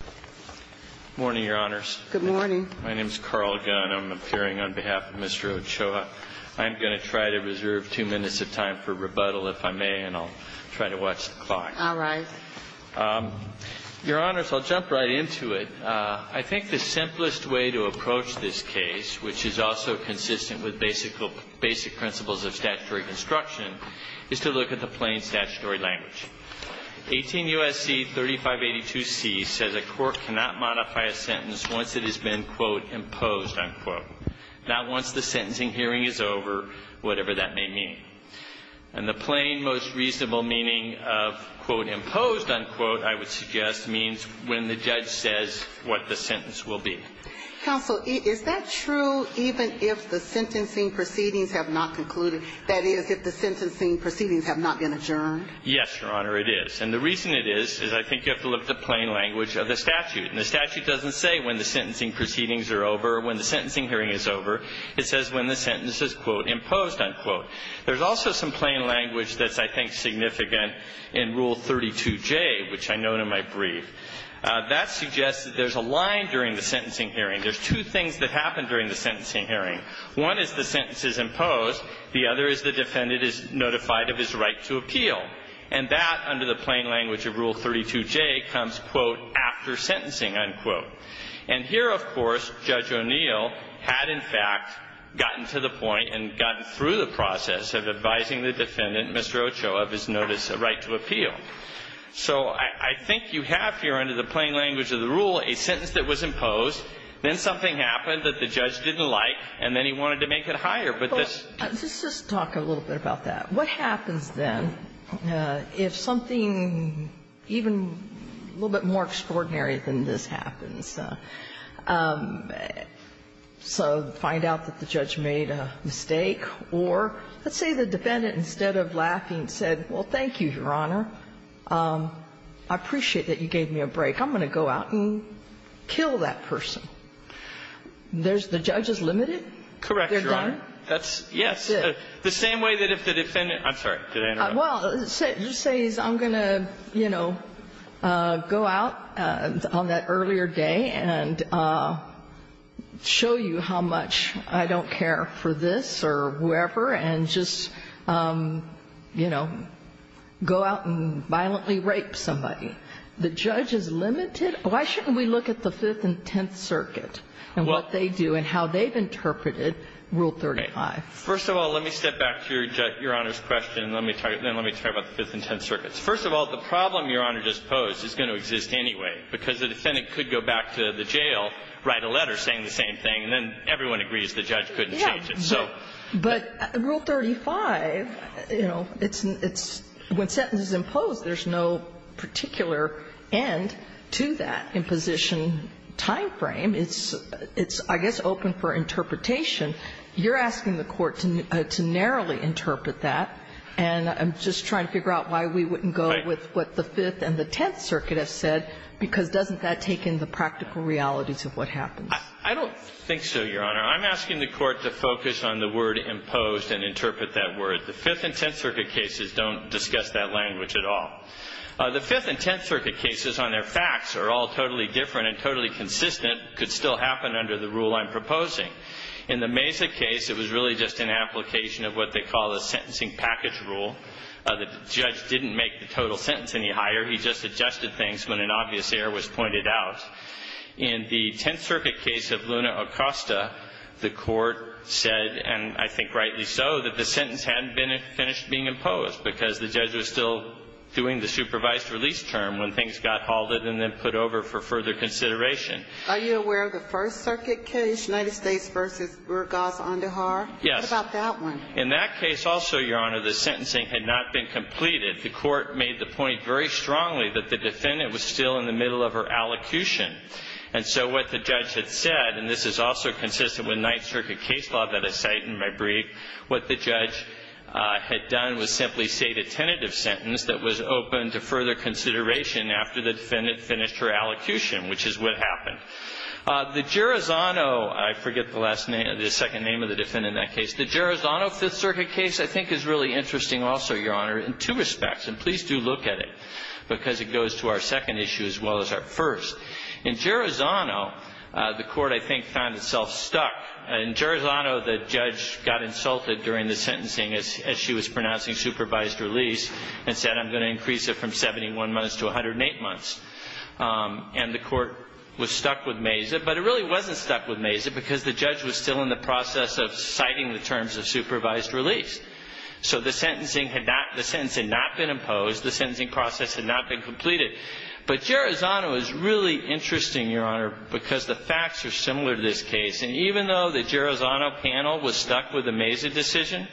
Good morning, Your Honors. My name is Carl Gunn. I'm appearing on behalf of Mr. Ochoa. I'm going to try to reserve two minutes of time for rebuttal, if I may, and I'll try to watch the clock. All right. Your Honors, I'll jump right into it. I think the simplest way to approach this case, which is also consistent with basic principles of statutory construction, is to look at the plain statutory language. 18 U.S.C. 3582c says a court cannot modify a sentence once it has been, quote, imposed, unquote, not once the sentencing hearing is over, whatever that may mean. And the plain, most reasonable meaning of, quote, imposed, unquote, I would suggest, means when the judge says what the sentence will be. Counsel, is that true even if the sentencing proceedings have not concluded? That is, if the sentencing proceedings have not been adjourned? Yes, Your Honor, it is. And the reason it is, is I think you have to look at the plain language of the statute. And the statute doesn't say when the sentencing proceedings are over or when the sentencing hearing is over. It says when the sentence is, quote, imposed, unquote. There's also some plain language that's, I think, significant in Rule 32J, which I note in my brief. That suggests that there's a line during the sentencing hearing. There's two things that happen during the sentencing hearing. One is the defendant is notified of his right to appeal. And that, under the plain language of Rule 32J, comes, quote, after sentencing, unquote. And here, of course, Judge O'Neill had, in fact, gotten to the point and gotten through the process of advising the defendant, Ms. Roach, of his notice of right to appeal. So I think you have here, under the plain language of the rule, a sentence that was imposed, then something happened that the judge didn't like, and then he wanted to make it higher. But this doesn't make it higher. But let's just talk a little bit about that. What happens, then, if something even a little bit more extraordinary than this happens? So find out that the judge made a mistake, or let's say the defendant, instead of laughing, said, well, thank you, Your Honor. I appreciate that you gave me a break. I'm going to go out and kill that person. There's the judge's limited. Correct, Your Honor. That's the same way that if the defendant – I'm sorry. Did I interrupt? Well, you say, I'm going to, you know, go out on that earlier day and show you how much I don't care for this or whoever, and just, you know, go out and violently rape somebody. The judge is limited? Why shouldn't we look at the Fifth and Tenth Circuits, Rule 35? First of all, let me step back to Your Honor's question, and then let me talk about the Fifth and Tenth Circuits. First of all, the problem Your Honor just posed is going to exist anyway, because the defendant could go back to the jail, write a letter saying the same thing, and then everyone agrees the judge couldn't change it. Yeah. But Rule 35, you know, it's – when sentence is imposed, there's no particular end to that imposition timeframe. It's, I guess, open for interpretation. You're asking the Court to narrowly interpret that, and I'm just trying to figure out why we wouldn't go with what the Fifth and the Tenth Circuit have said, because doesn't that take in the practical realities of what happens? I don't think so, Your Honor. I'm asking the Court to focus on the word imposed and interpret that word. The Fifth and Tenth Circuit cases don't discuss that language at all. The Fifth and Tenth Circuit cases on their facts are all totally different and totally consistent, could still happen under the rule I'm proposing. In the Mesa case, it was really just an application of what they call the sentencing package rule. The judge didn't make the total sentence any higher. He just adjusted things when an obvious error was pointed out. In the Tenth Circuit case of Luna Acosta, the Court said, and I think rightly so, that the sentence hadn't been finished being imposed, because the judge was still doing the supervised release term when things got halted and then put over for further consideration. Are you aware of the First Circuit case, United States v. Burgas-Ondehar? Yes. What about that one? In that case also, Your Honor, the sentencing had not been completed. The Court made the point very strongly that the defendant was still in the middle of her allocution. And so what the judge had said, and this is also consistent with Ninth Circuit case law that I cite in my brief, what the judge had done was simply state a tentative sentence that was open to further consideration after the defendant finished her allocution, which is what happened. The Gerozano, I forget the last name, the second name of the defendant in that case, the Gerozano Fifth Circuit case I think is really interesting also, Your Honor, in two respects, and please do look at it, because it goes to our second issue as well as our first. In Gerozano, the Court, I think, found itself stuck. In Gerozano, the judge got insulted during the sentencing as she was pronouncing supervised release and said, I'm going to increase it from 71 months to 108 months. And the Court was stuck with Mazet, but it really wasn't stuck with Mazet because the judge was still in the process of citing the terms of supervised release. So the sentencing had not been imposed, the sentencing process had not been completed. But Gerozano is really interesting, Your Honor, because the facts are similar to this case. And even though the Gerozano panel was stuck with the Mazet decision,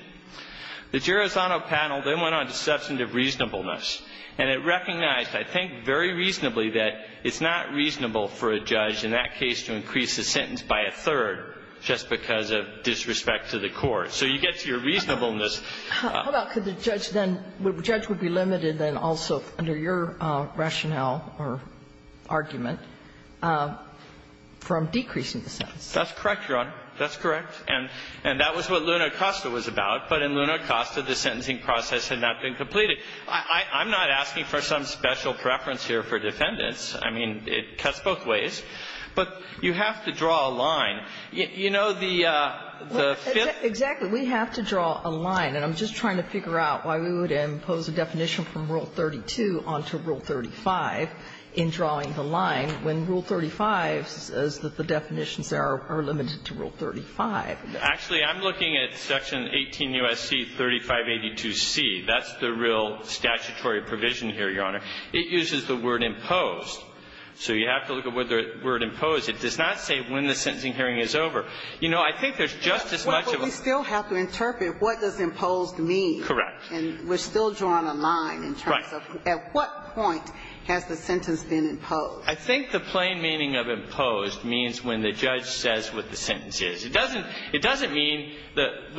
the Gerozano panel then went on to substantive reasonableness. And it recognized, I think, very reasonably that it's not reasonable for a judge in that case to increase the sentence by a third just because of disrespect to the court. So you get to your reasonableness. How about could the judge then – the judge would be limited then also under your rationale or argument from decreasing the sentence? That's correct, Your Honor. That's correct. And that was what Luna Acosta was about, but in Luna Acosta, the sentencing process had not been completed. I'm not asking for some special preference here for defendants. I mean, it cuts both ways. But you have to draw a line. You know, the fifth – Exactly. We have to draw a line. And I'm just trying to figure out why we would impose a definition from Rule 32 onto Rule 35 in drawing the line when Rule 35 says that the definitions are limited to Rule 35. Actually, I'm looking at Section 18 U.S.C. 3582C. That's the real statutory provision here, Your Honor. It uses the word imposed. So you have to look at the word imposed. It does not say when the sentencing hearing is over. You know, I think there's just as much of a – But we still have to interpret what does imposed mean. Correct. And we're still drawing a line in terms of at what point has the sentence been imposed. I think the plain meaning of imposed means when the judge says what the sentence is. It doesn't mean that what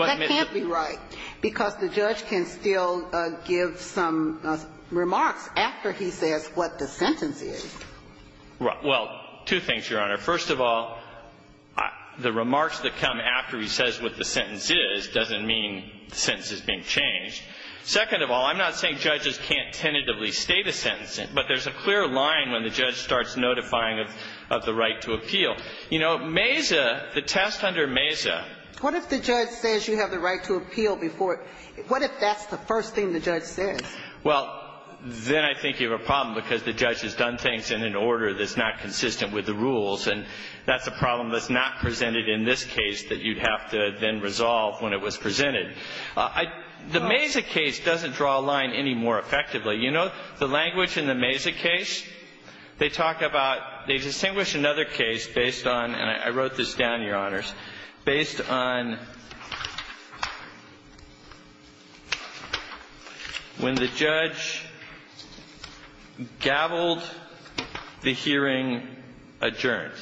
– Well, two things, Your Honor. First of all, the remarks that come after he says what the sentence is doesn't mean the sentence is being changed. Second of all, I'm not saying judges can't tentatively state a sentence, but there's a clear line when the judge starts notifying of the right to appeal. You know, Mesa, the test under Mesa – What if the judge says you have the right to appeal before – what if that's the first thing that the judge says? Well, then I think you have a problem, because the judge has done things in an order that's not consistent with the rules, and that's a problem that's not presented in this case that you'd have to then resolve when it was presented. I – the Mesa case doesn't draw a line any more effectively. You know, the language in the Mesa case, they talk about – they distinguish another case based on – and I wrote this down, Your Honors – based on – when the judge gaveled the hearing adjourned.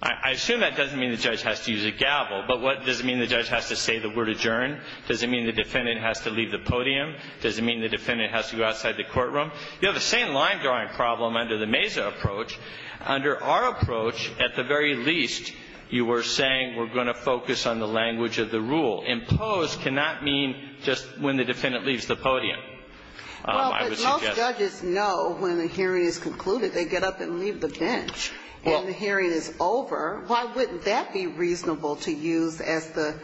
I assume that doesn't mean the judge has to use a gavel, but what – does it mean the judge has to say the word adjourned? Does it mean the defendant has to leave the podium? Does it mean the defendant has to go outside the courtroom? You have the same line-drawing problem under the Mesa approach. Under our approach, at the very least, you were saying we're going to focus on the language of the rule. Imposed cannot mean just when the defendant leaves the podium, I would suggest. Well, but most judges know when a hearing is concluded, they get up and leave the bench. Well – And the hearing is over. Why wouldn't that be reasonable to use as the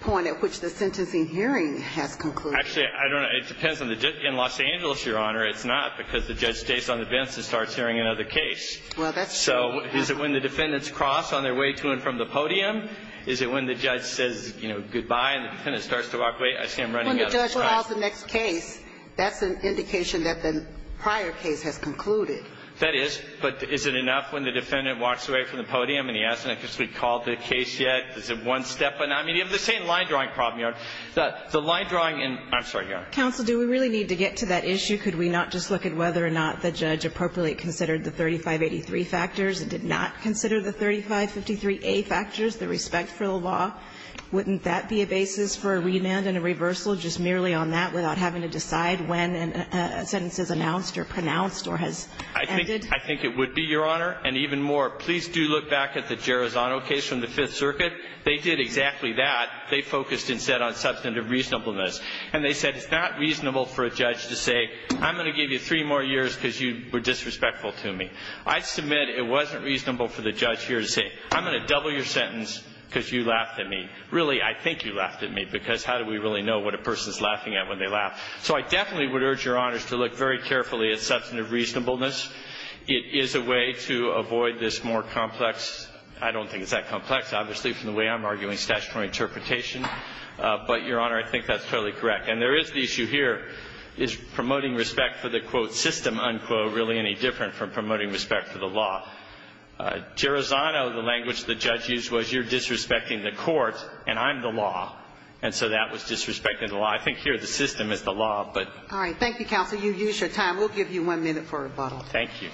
point at which the sentencing hearing has concluded? Actually, I don't know. It depends on the judge. In Los Angeles, Your Honor, it's not, because the judge stays on the bench and starts hearing another case. Well, that's true. So is it when the defendants cross on their way to and from the podium? Is it when the judge says, you know, goodbye, and the defendant starts to walk away? I see I'm running out of time. When the judge files the next case, that's an indication that the prior case has concluded. That is, but is it enough when the defendant walks away from the podium and he hasn't actually called the case yet? Is it one step? I mean, you have the same line-drawing problem, Your Honor. The line-drawing in – I'm sorry, Your Honor. Counsel, do we really need to get to that issue? Could we not just look at whether or not the judge appropriately considered the 3583 factors and did not consider the 3553A factors? The respect for the law, wouldn't that be a basis for a remand and a reversal, just merely on that, without having to decide when a sentence is announced or pronounced or has ended? I think it would be, Your Honor. And even more, please do look back at the Gerozzano case from the Fifth Circuit. They did exactly that. They focused instead on substantive reasonableness. And they said it's not reasonable for a judge to say, I'm going to give you three more years because you were disrespectful to me. I submit it wasn't reasonable for the judge here to say, I'm going to double your sentence because you laughed at me. Really, I think you laughed at me because how do we really know what a person is laughing at when they laugh? So I definitely would urge Your Honors to look very carefully at substantive reasonableness. It is a way to avoid this more complex – I don't think it's that complex, obviously, from the way I'm arguing statutory interpretation. But, Your Honor, I think that's totally correct. And there is the issue here. Is promoting respect for the, quote, system, unquote, really any different from promoting respect for the law? Gerozzano, the language the judge used was, you're disrespecting the court and I'm the law. And so that was disrespecting the law. I think here the system is the law, but – All right. Thank you, counsel. You've used your time. We'll give you one minute for rebuttal. Thank you.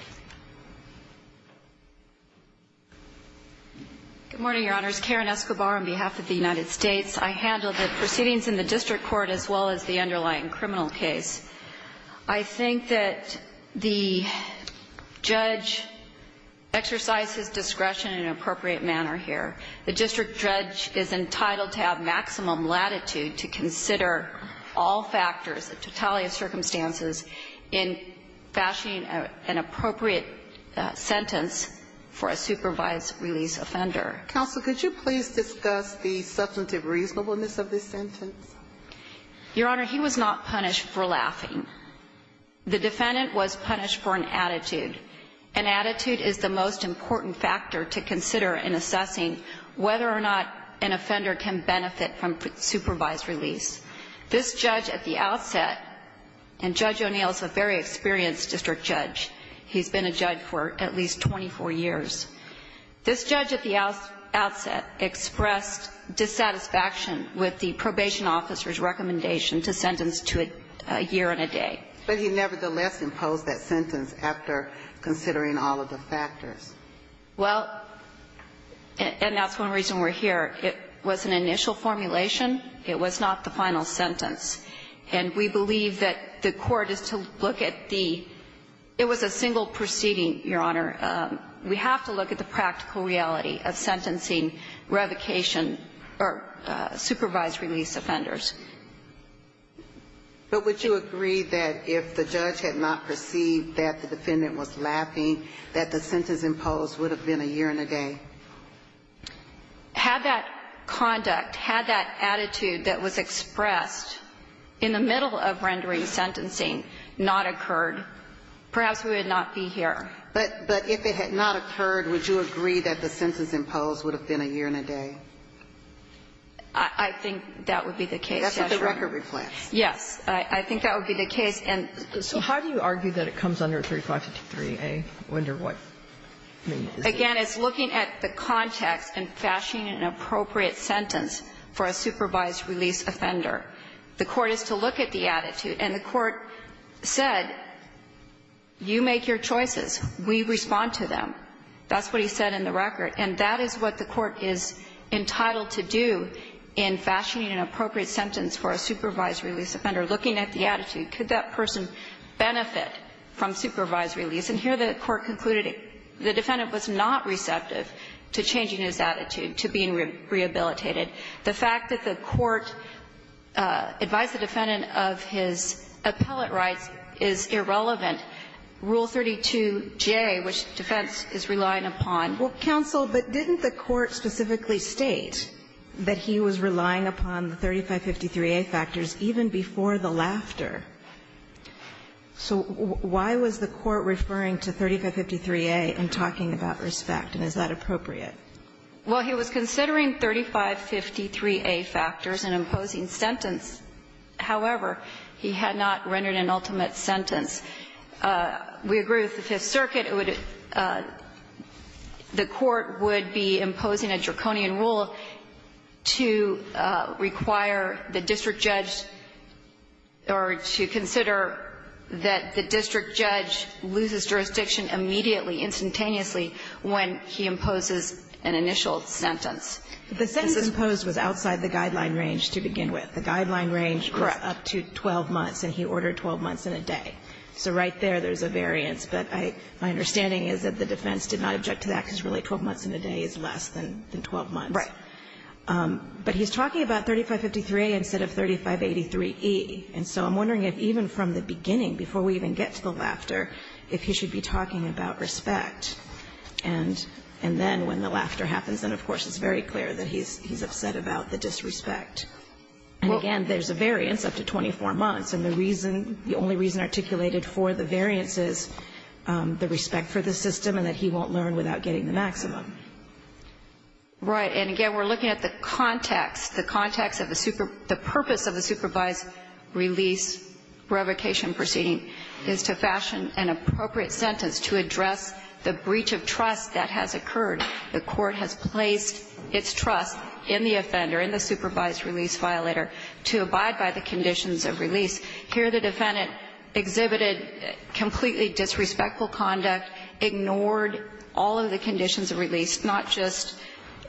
Good morning, Your Honors. Karen Escobar on behalf of the United States. I handle the proceedings in the district court as well as the underlying criminal case. I think that the judge exercised his discretion in an appropriate manner here. The district judge is entitled to have maximum latitude to consider all factors, the totality of circumstances, in fashioning an appropriate sentence for a supervised release offender. Counsel, could you please discuss the substantive reasonableness of this sentence? Your Honor, he was not punished for laughing. The defendant was punished for an attitude. An attitude is the most important factor to consider in assessing whether or not an offender can benefit from supervised release. This judge at the outset – and Judge O'Neill is a very experienced district judge. He's been a judge for at least 24 years. This judge at the outset expressed dissatisfaction with the probation officer's recommendation to sentence to a year and a day. But he nevertheless imposed that sentence after considering all of the factors. Well, and that's one reason we're here. It was an initial formulation. It was not the final sentence. And we believe that the court is to look at the – it was a single proceeding, Your Honor. We have to look at the practical reality of sentencing revocation or supervised release offenders. But would you agree that if the judge had not perceived that the defendant was laughing, that the sentence imposed would have been a year and a day? Had that conduct, had that attitude that was expressed in the middle of rendering sentencing not occurred, perhaps we would not be here. But if it had not occurred, would you agree that the sentence imposed would have been a year and a day? I think that would be the case, Yes, Your Honor. That's what the record reflects. Yes. I think that would be the case. So how do you argue that it comes under 3553a? I wonder what it means. Again, it's looking at the context and fashioning an appropriate sentence for a supervised release offender. The court is to look at the attitude. And the court said, you make your choices. We respond to them. That's what he said in the record. And that is what the court is entitled to do in fashioning an appropriate sentence for a supervised release offender, looking at the attitude. Could that person benefit from supervised release? And here the court concluded the defendant was not receptive to changing his attitude to being rehabilitated. The fact that the court advised the defendant of his appellate rights is irrelevant. Rule 32J, which defense is relying upon. Well, counsel, but didn't the court specifically state that he was relying upon the 3553a factors even before the laughter? So why was the court referring to 3553a and talking about respect? And is that appropriate? Well, he was considering 3553a factors and imposing sentence. However, he had not rendered an ultimate sentence. We agree with the Fifth Circuit. It would be the court would be imposing a draconian rule to require the district judge or to consider that the district judge loses jurisdiction immediately, instantaneously, when he imposes an initial sentence. The sentence imposed was outside the guideline range to begin with. The guideline range was up to 12 months, and he ordered 12 months and a day. So right there, there's a variance. But my understanding is that the defense did not object to that because, really, 12 months and a day is less than 12 months. Right. But he's talking about 3553a instead of 3583e. And so I'm wondering if even from the beginning, before we even get to the laughter, if he should be talking about respect. And then when the laughter happens, then, of course, it's very clear that he's upset about the disrespect. And, again, there's a variance up to 24 months. And the reason the only reason articulated for the variance is the respect for the system and that he won't learn without getting the maximum. Right. And, again, we're looking at the context. The context of the purpose of the supervised release revocation proceeding is to fashion an appropriate sentence to address the breach of trust that has occurred. The Court has placed its trust in the offender, in the supervised release violator, to abide by the conditions of release. Here, the defendant exhibited completely disrespectful conduct, ignored all of the conditions of release, not just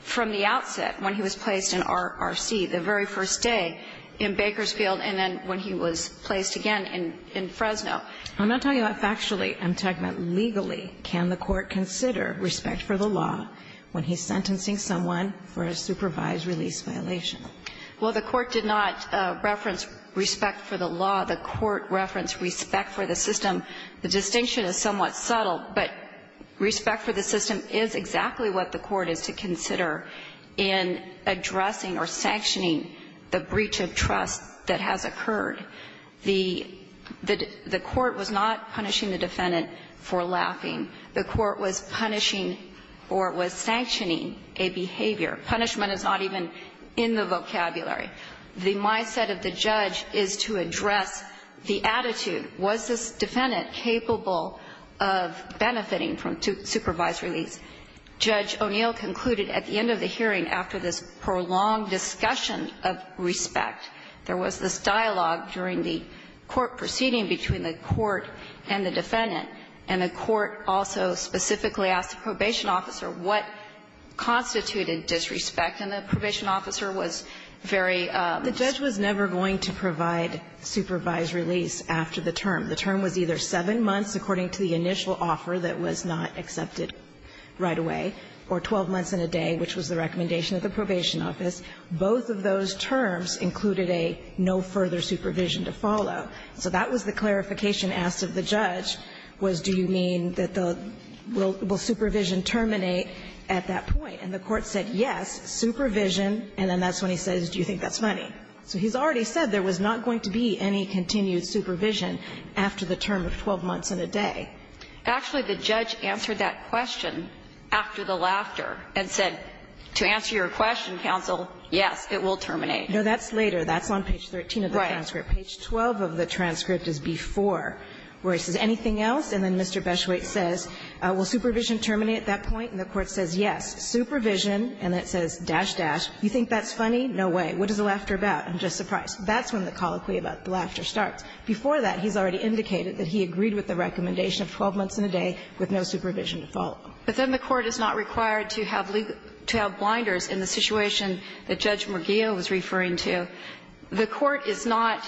from the outset when he was placed in RC, the very first day in Bakersfield, and then when he was placed again in Fresno. I'm not talking about factually. I'm talking about legally. Can the Court consider respect for the law when he's sentencing someone for a supervised release violation? Well, the Court did not reference respect for the law. The Court referenced respect for the system. The distinction is somewhat subtle, but respect for the system is exactly what the Court is to consider in addressing or sanctioning the breach of trust that has occurred. The Court was not punishing the defendant for laughing. The Court was punishing or was sanctioning a behavior. Punishment is not even in the vocabulary. The mindset of the judge is to address the attitude. Was this defendant capable of benefiting from supervised release? Judge O'Neill concluded at the end of the hearing, after this prolonged discussion of respect, there was this dialogue during the court proceeding between the court and the defendant, and the court also specifically asked the probation officer what constituted disrespect, and the probation officer was very strict. The judge was never going to provide supervised release after the term. The term was either 7 months according to the initial offer that was not accepted right away, or 12 months and a day, which was the recommendation of the probation office, both of those terms included a no further supervision to follow. So that was the clarification asked of the judge, was do you mean that the – will supervision terminate at that point? And the court said, yes, supervision, and then that's when he says, do you think that's funny? So he's already said there was not going to be any continued supervision after the term of 12 months and a day. Actually, the judge answered that question after the laughter and said, to answer your question, counsel, yes, it will terminate. No, that's later. That's on page 13 of the transcript. Page 12 of the transcript is before where he says, anything else? And then Mr. Beschwitz says, will supervision terminate at that point? And the court says, yes. Supervision, and then it says, dash, dash, do you think that's funny? No way. What is the laughter about? I'm just surprised. That's when the colloquy about the laughter starts. Before that, he's already indicated that he agreed with the recommendation of 12 months and a day with no supervision to follow. But then the court is not required to have blinders in the situation that Judge Murguia was referring to. The court is not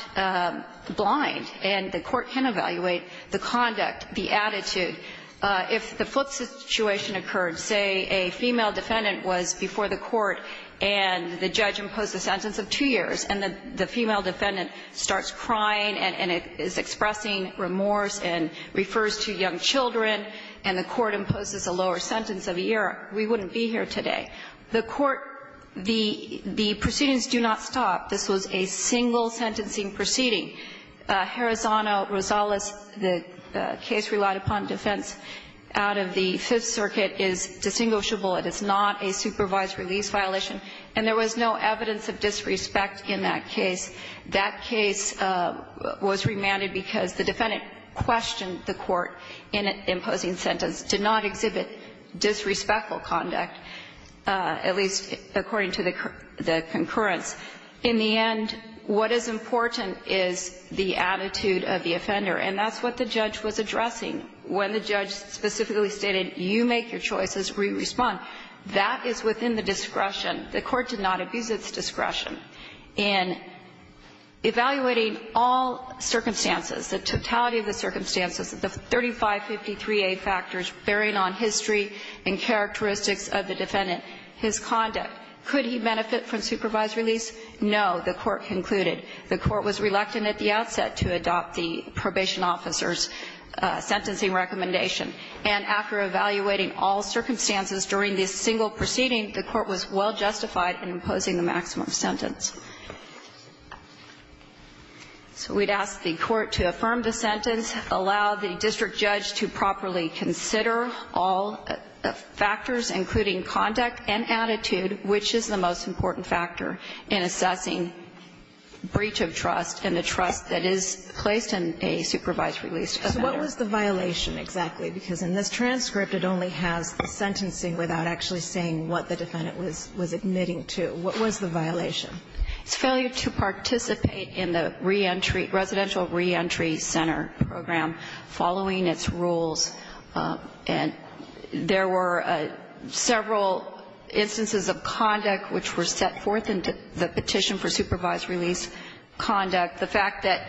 blind, and the court can evaluate the conduct, the attitude. If the flip situation occurred, say a female defendant was before the court and the judge imposed a sentence of two years, and the female defendant starts crying and is expressing remorse and refers to young children, and the court imposes a lower sentence of a year, we wouldn't be here today. The court, the proceedings do not stop. This was a single sentencing proceeding. Harazano-Rosales, the case relied upon defense out of the Fifth Circuit, is distinguishable. It is not a supervised release violation, and there was no evidence of disrespect in that case. That case was remanded because the defendant questioned the court in imposing sentence, did not exhibit disrespectful conduct, at least according to the concurrence. In the end, what is important is the attitude of the offender. And that's what the judge was addressing. When the judge specifically stated, you make your choices, we respond, that is within the discretion. The court did not abuse its discretion in evaluating all circumstances, the totality of the circumstances, the 3553A factors bearing on history and characteristics of the defendant, his conduct. Could he benefit from supervised release? No, the court concluded. The court was reluctant at the outset to adopt the probation officer's sentencing recommendation. And after evaluating all circumstances during this single proceeding, the court was well justified in imposing the maximum sentence. So we'd ask the court to affirm the sentence, allow the district judge to properly consider all factors, including conduct and attitude, which is the most important factor in assessing breach of trust and the trust that is placed in a supervised release. So what was the violation exactly? Because in this transcript, it only has the sentencing without actually saying what the defendant was admitting to. What was the violation? It's failure to participate in the reentry, residential reentry center program following its rules. And there were several instances of conduct which were set forth in the petition for supervised release conduct. The fact that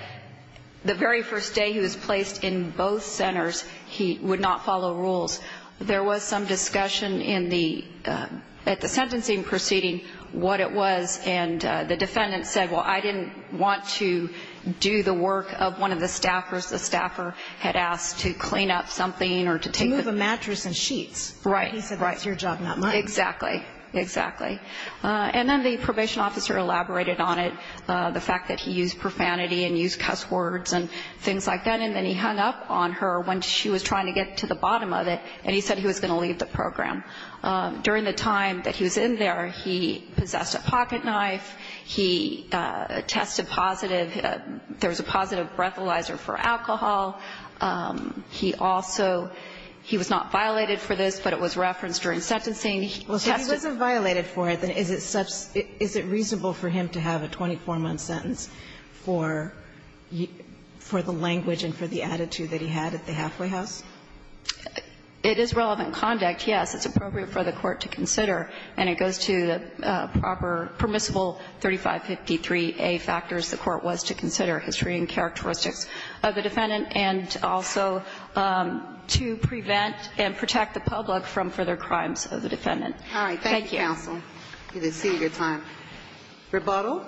the very first day he was placed in both centers, he would not follow rules. There was some discussion in the ‑‑ at the sentencing proceeding what it was. And the defendant said, well, I didn't want to do the work of one of the staffers. The staffer had asked to clean up something or to take the ‑‑ To move a mattress and sheets. Right. He said, right, it's your job, not mine. Exactly. Exactly. And then the probation officer elaborated on it, the fact that he used profanity and used cuss words and things like that. And then he hung up on her when she was trying to get to the bottom of it, and he said he was going to leave the program. During the time that he was in there, he possessed a pocket knife. He tested positive. There was a positive breathalyzer for alcohol. He also ‑‑ he was not violated for this, but it was referenced during sentencing. Well, if he wasn't violated for it, then is it reasonable for him to have a 24‑month sentence for the language and for the attitude that he had at the halfway house? It is relevant conduct, yes. It's appropriate for the court to consider. And it goes to the proper permissible 3553A factors the court was to consider, history and characteristics of the defendant, and also to prevent and protect the public from further crimes of the defendant. All right. Thank you. Thank you, counsel. We did see your time. Rebuttal?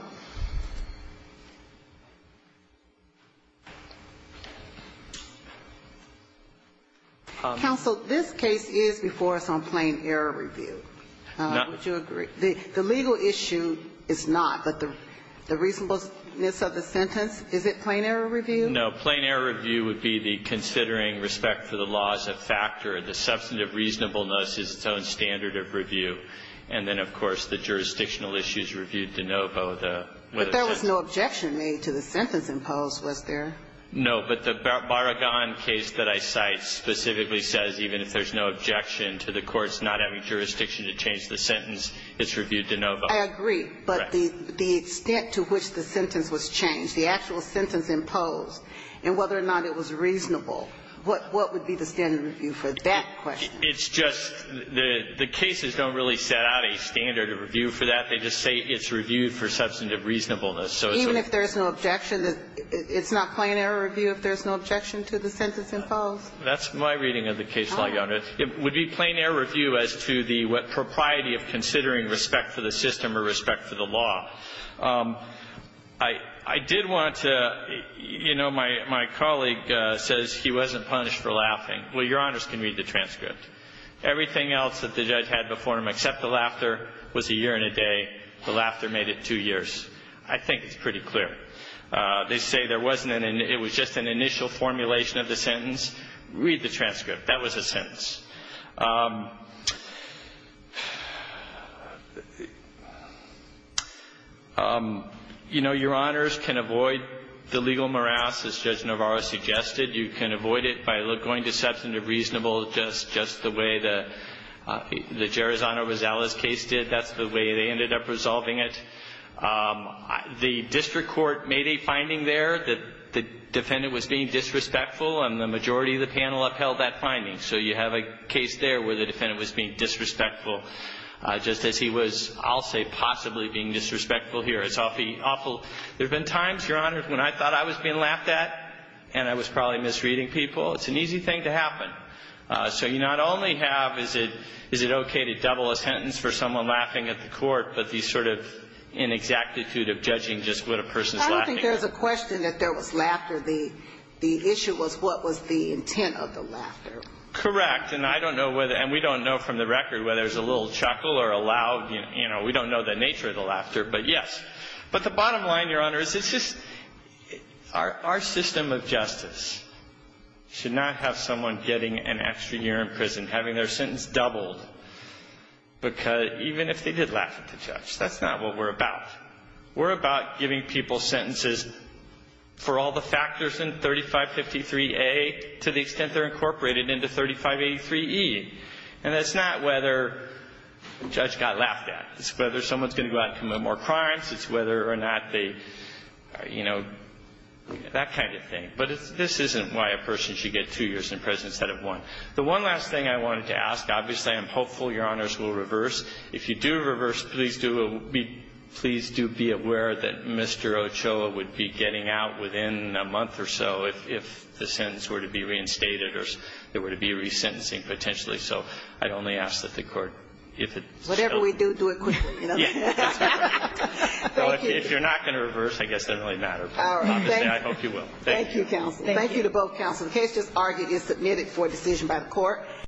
Counsel, this case is before us on plain error review. Would you agree? The legal issue is not, but the reasonableness of the sentence, is it plain error review? No. Plain error review would be the considering respect for the law as a factor. And then, of course, the jurisdictional issue is reviewed de novo. But there was no objection made to the sentence imposed, was there? No. But the Barragan case that I cite specifically says even if there's no objection to the courts not having jurisdiction to change the sentence, it's reviewed de novo. I agree. But the extent to which the sentence was changed, the actual sentence imposed, and whether or not it was reasonable, what would be the standard review for that question? It's just the cases don't really set out a standard of review for that. They just say it's reviewed for substantive reasonableness. So it's a little bit of both. Even if there's no objection, it's not plain error review if there's no objection to the sentence imposed? That's my reading of the case, Your Honor. It would be plain error review as to the propriety of considering respect for the system or respect for the law. I did want to, you know, my colleague says he wasn't punished for laughing. Well, Your Honors can read the transcript. Everything else that the judge had before him except the laughter was a year and a day. The laughter made it two years. I think it's pretty clear. They say there wasn't an – it was just an initial formulation of the sentence. Read the transcript. That was a sentence. You know, Your Honors can avoid the legal morass, as Judge Navarro suggested. You can avoid it by going to substantive reasonableness just the way the Gerozano Rosales case did. That's the way they ended up resolving it. The district court made a finding there that the defendant was being disrespectful and the majority of the panel upheld that finding. So you have a case there where the defendant was being disrespectful just as he was, I'll say, possibly being disrespectful here. It's awfully awful. There have been times, Your Honors, when I thought I was being laughed at and I was probably misreading people. It's an easy thing to happen. So you not only have, is it okay to double a sentence for someone laughing at the court, but the sort of inexactitude of judging just what a person is laughing at. I don't think there's a question that there was laughter. The issue was what was the intent of the laughter. Correct. And I don't know whether – and we don't know from the record whether it was a little chuckle or a loud – you know, we don't know the nature of the laughter, but yes. But the bottom line, Your Honor, is it's just – our system of justice should not have someone getting an extra year in prison, having their sentence doubled, because even if they did laugh at the judge, that's not what we're about. We're about giving people sentences for all the factors in 3553A to the extent they're incorporated into 3583E. And that's not whether the judge got laughed at. It's whether someone's going to go out and commit more crimes. It's whether or not they – you know, that kind of thing. But this isn't why a person should get two years in prison instead of one. The one last thing I wanted to ask, obviously I am hopeful Your Honors will reverse. If you do reverse, please do be aware that Mr. Ochoa would be getting out within a month or so if the sentence were to be reinstated or there were to be resentencing potentially. So I'd only ask that the Court, if it so – If you know what we do, do it quickly, you know? Yeah, that's right. Thank you. If you're not going to reverse, I guess it doesn't really matter. Obviously, I hope you will. Thank you. Thank you, counsel. Thank you to both counsel. The case just argued is submitted for decision by the Court.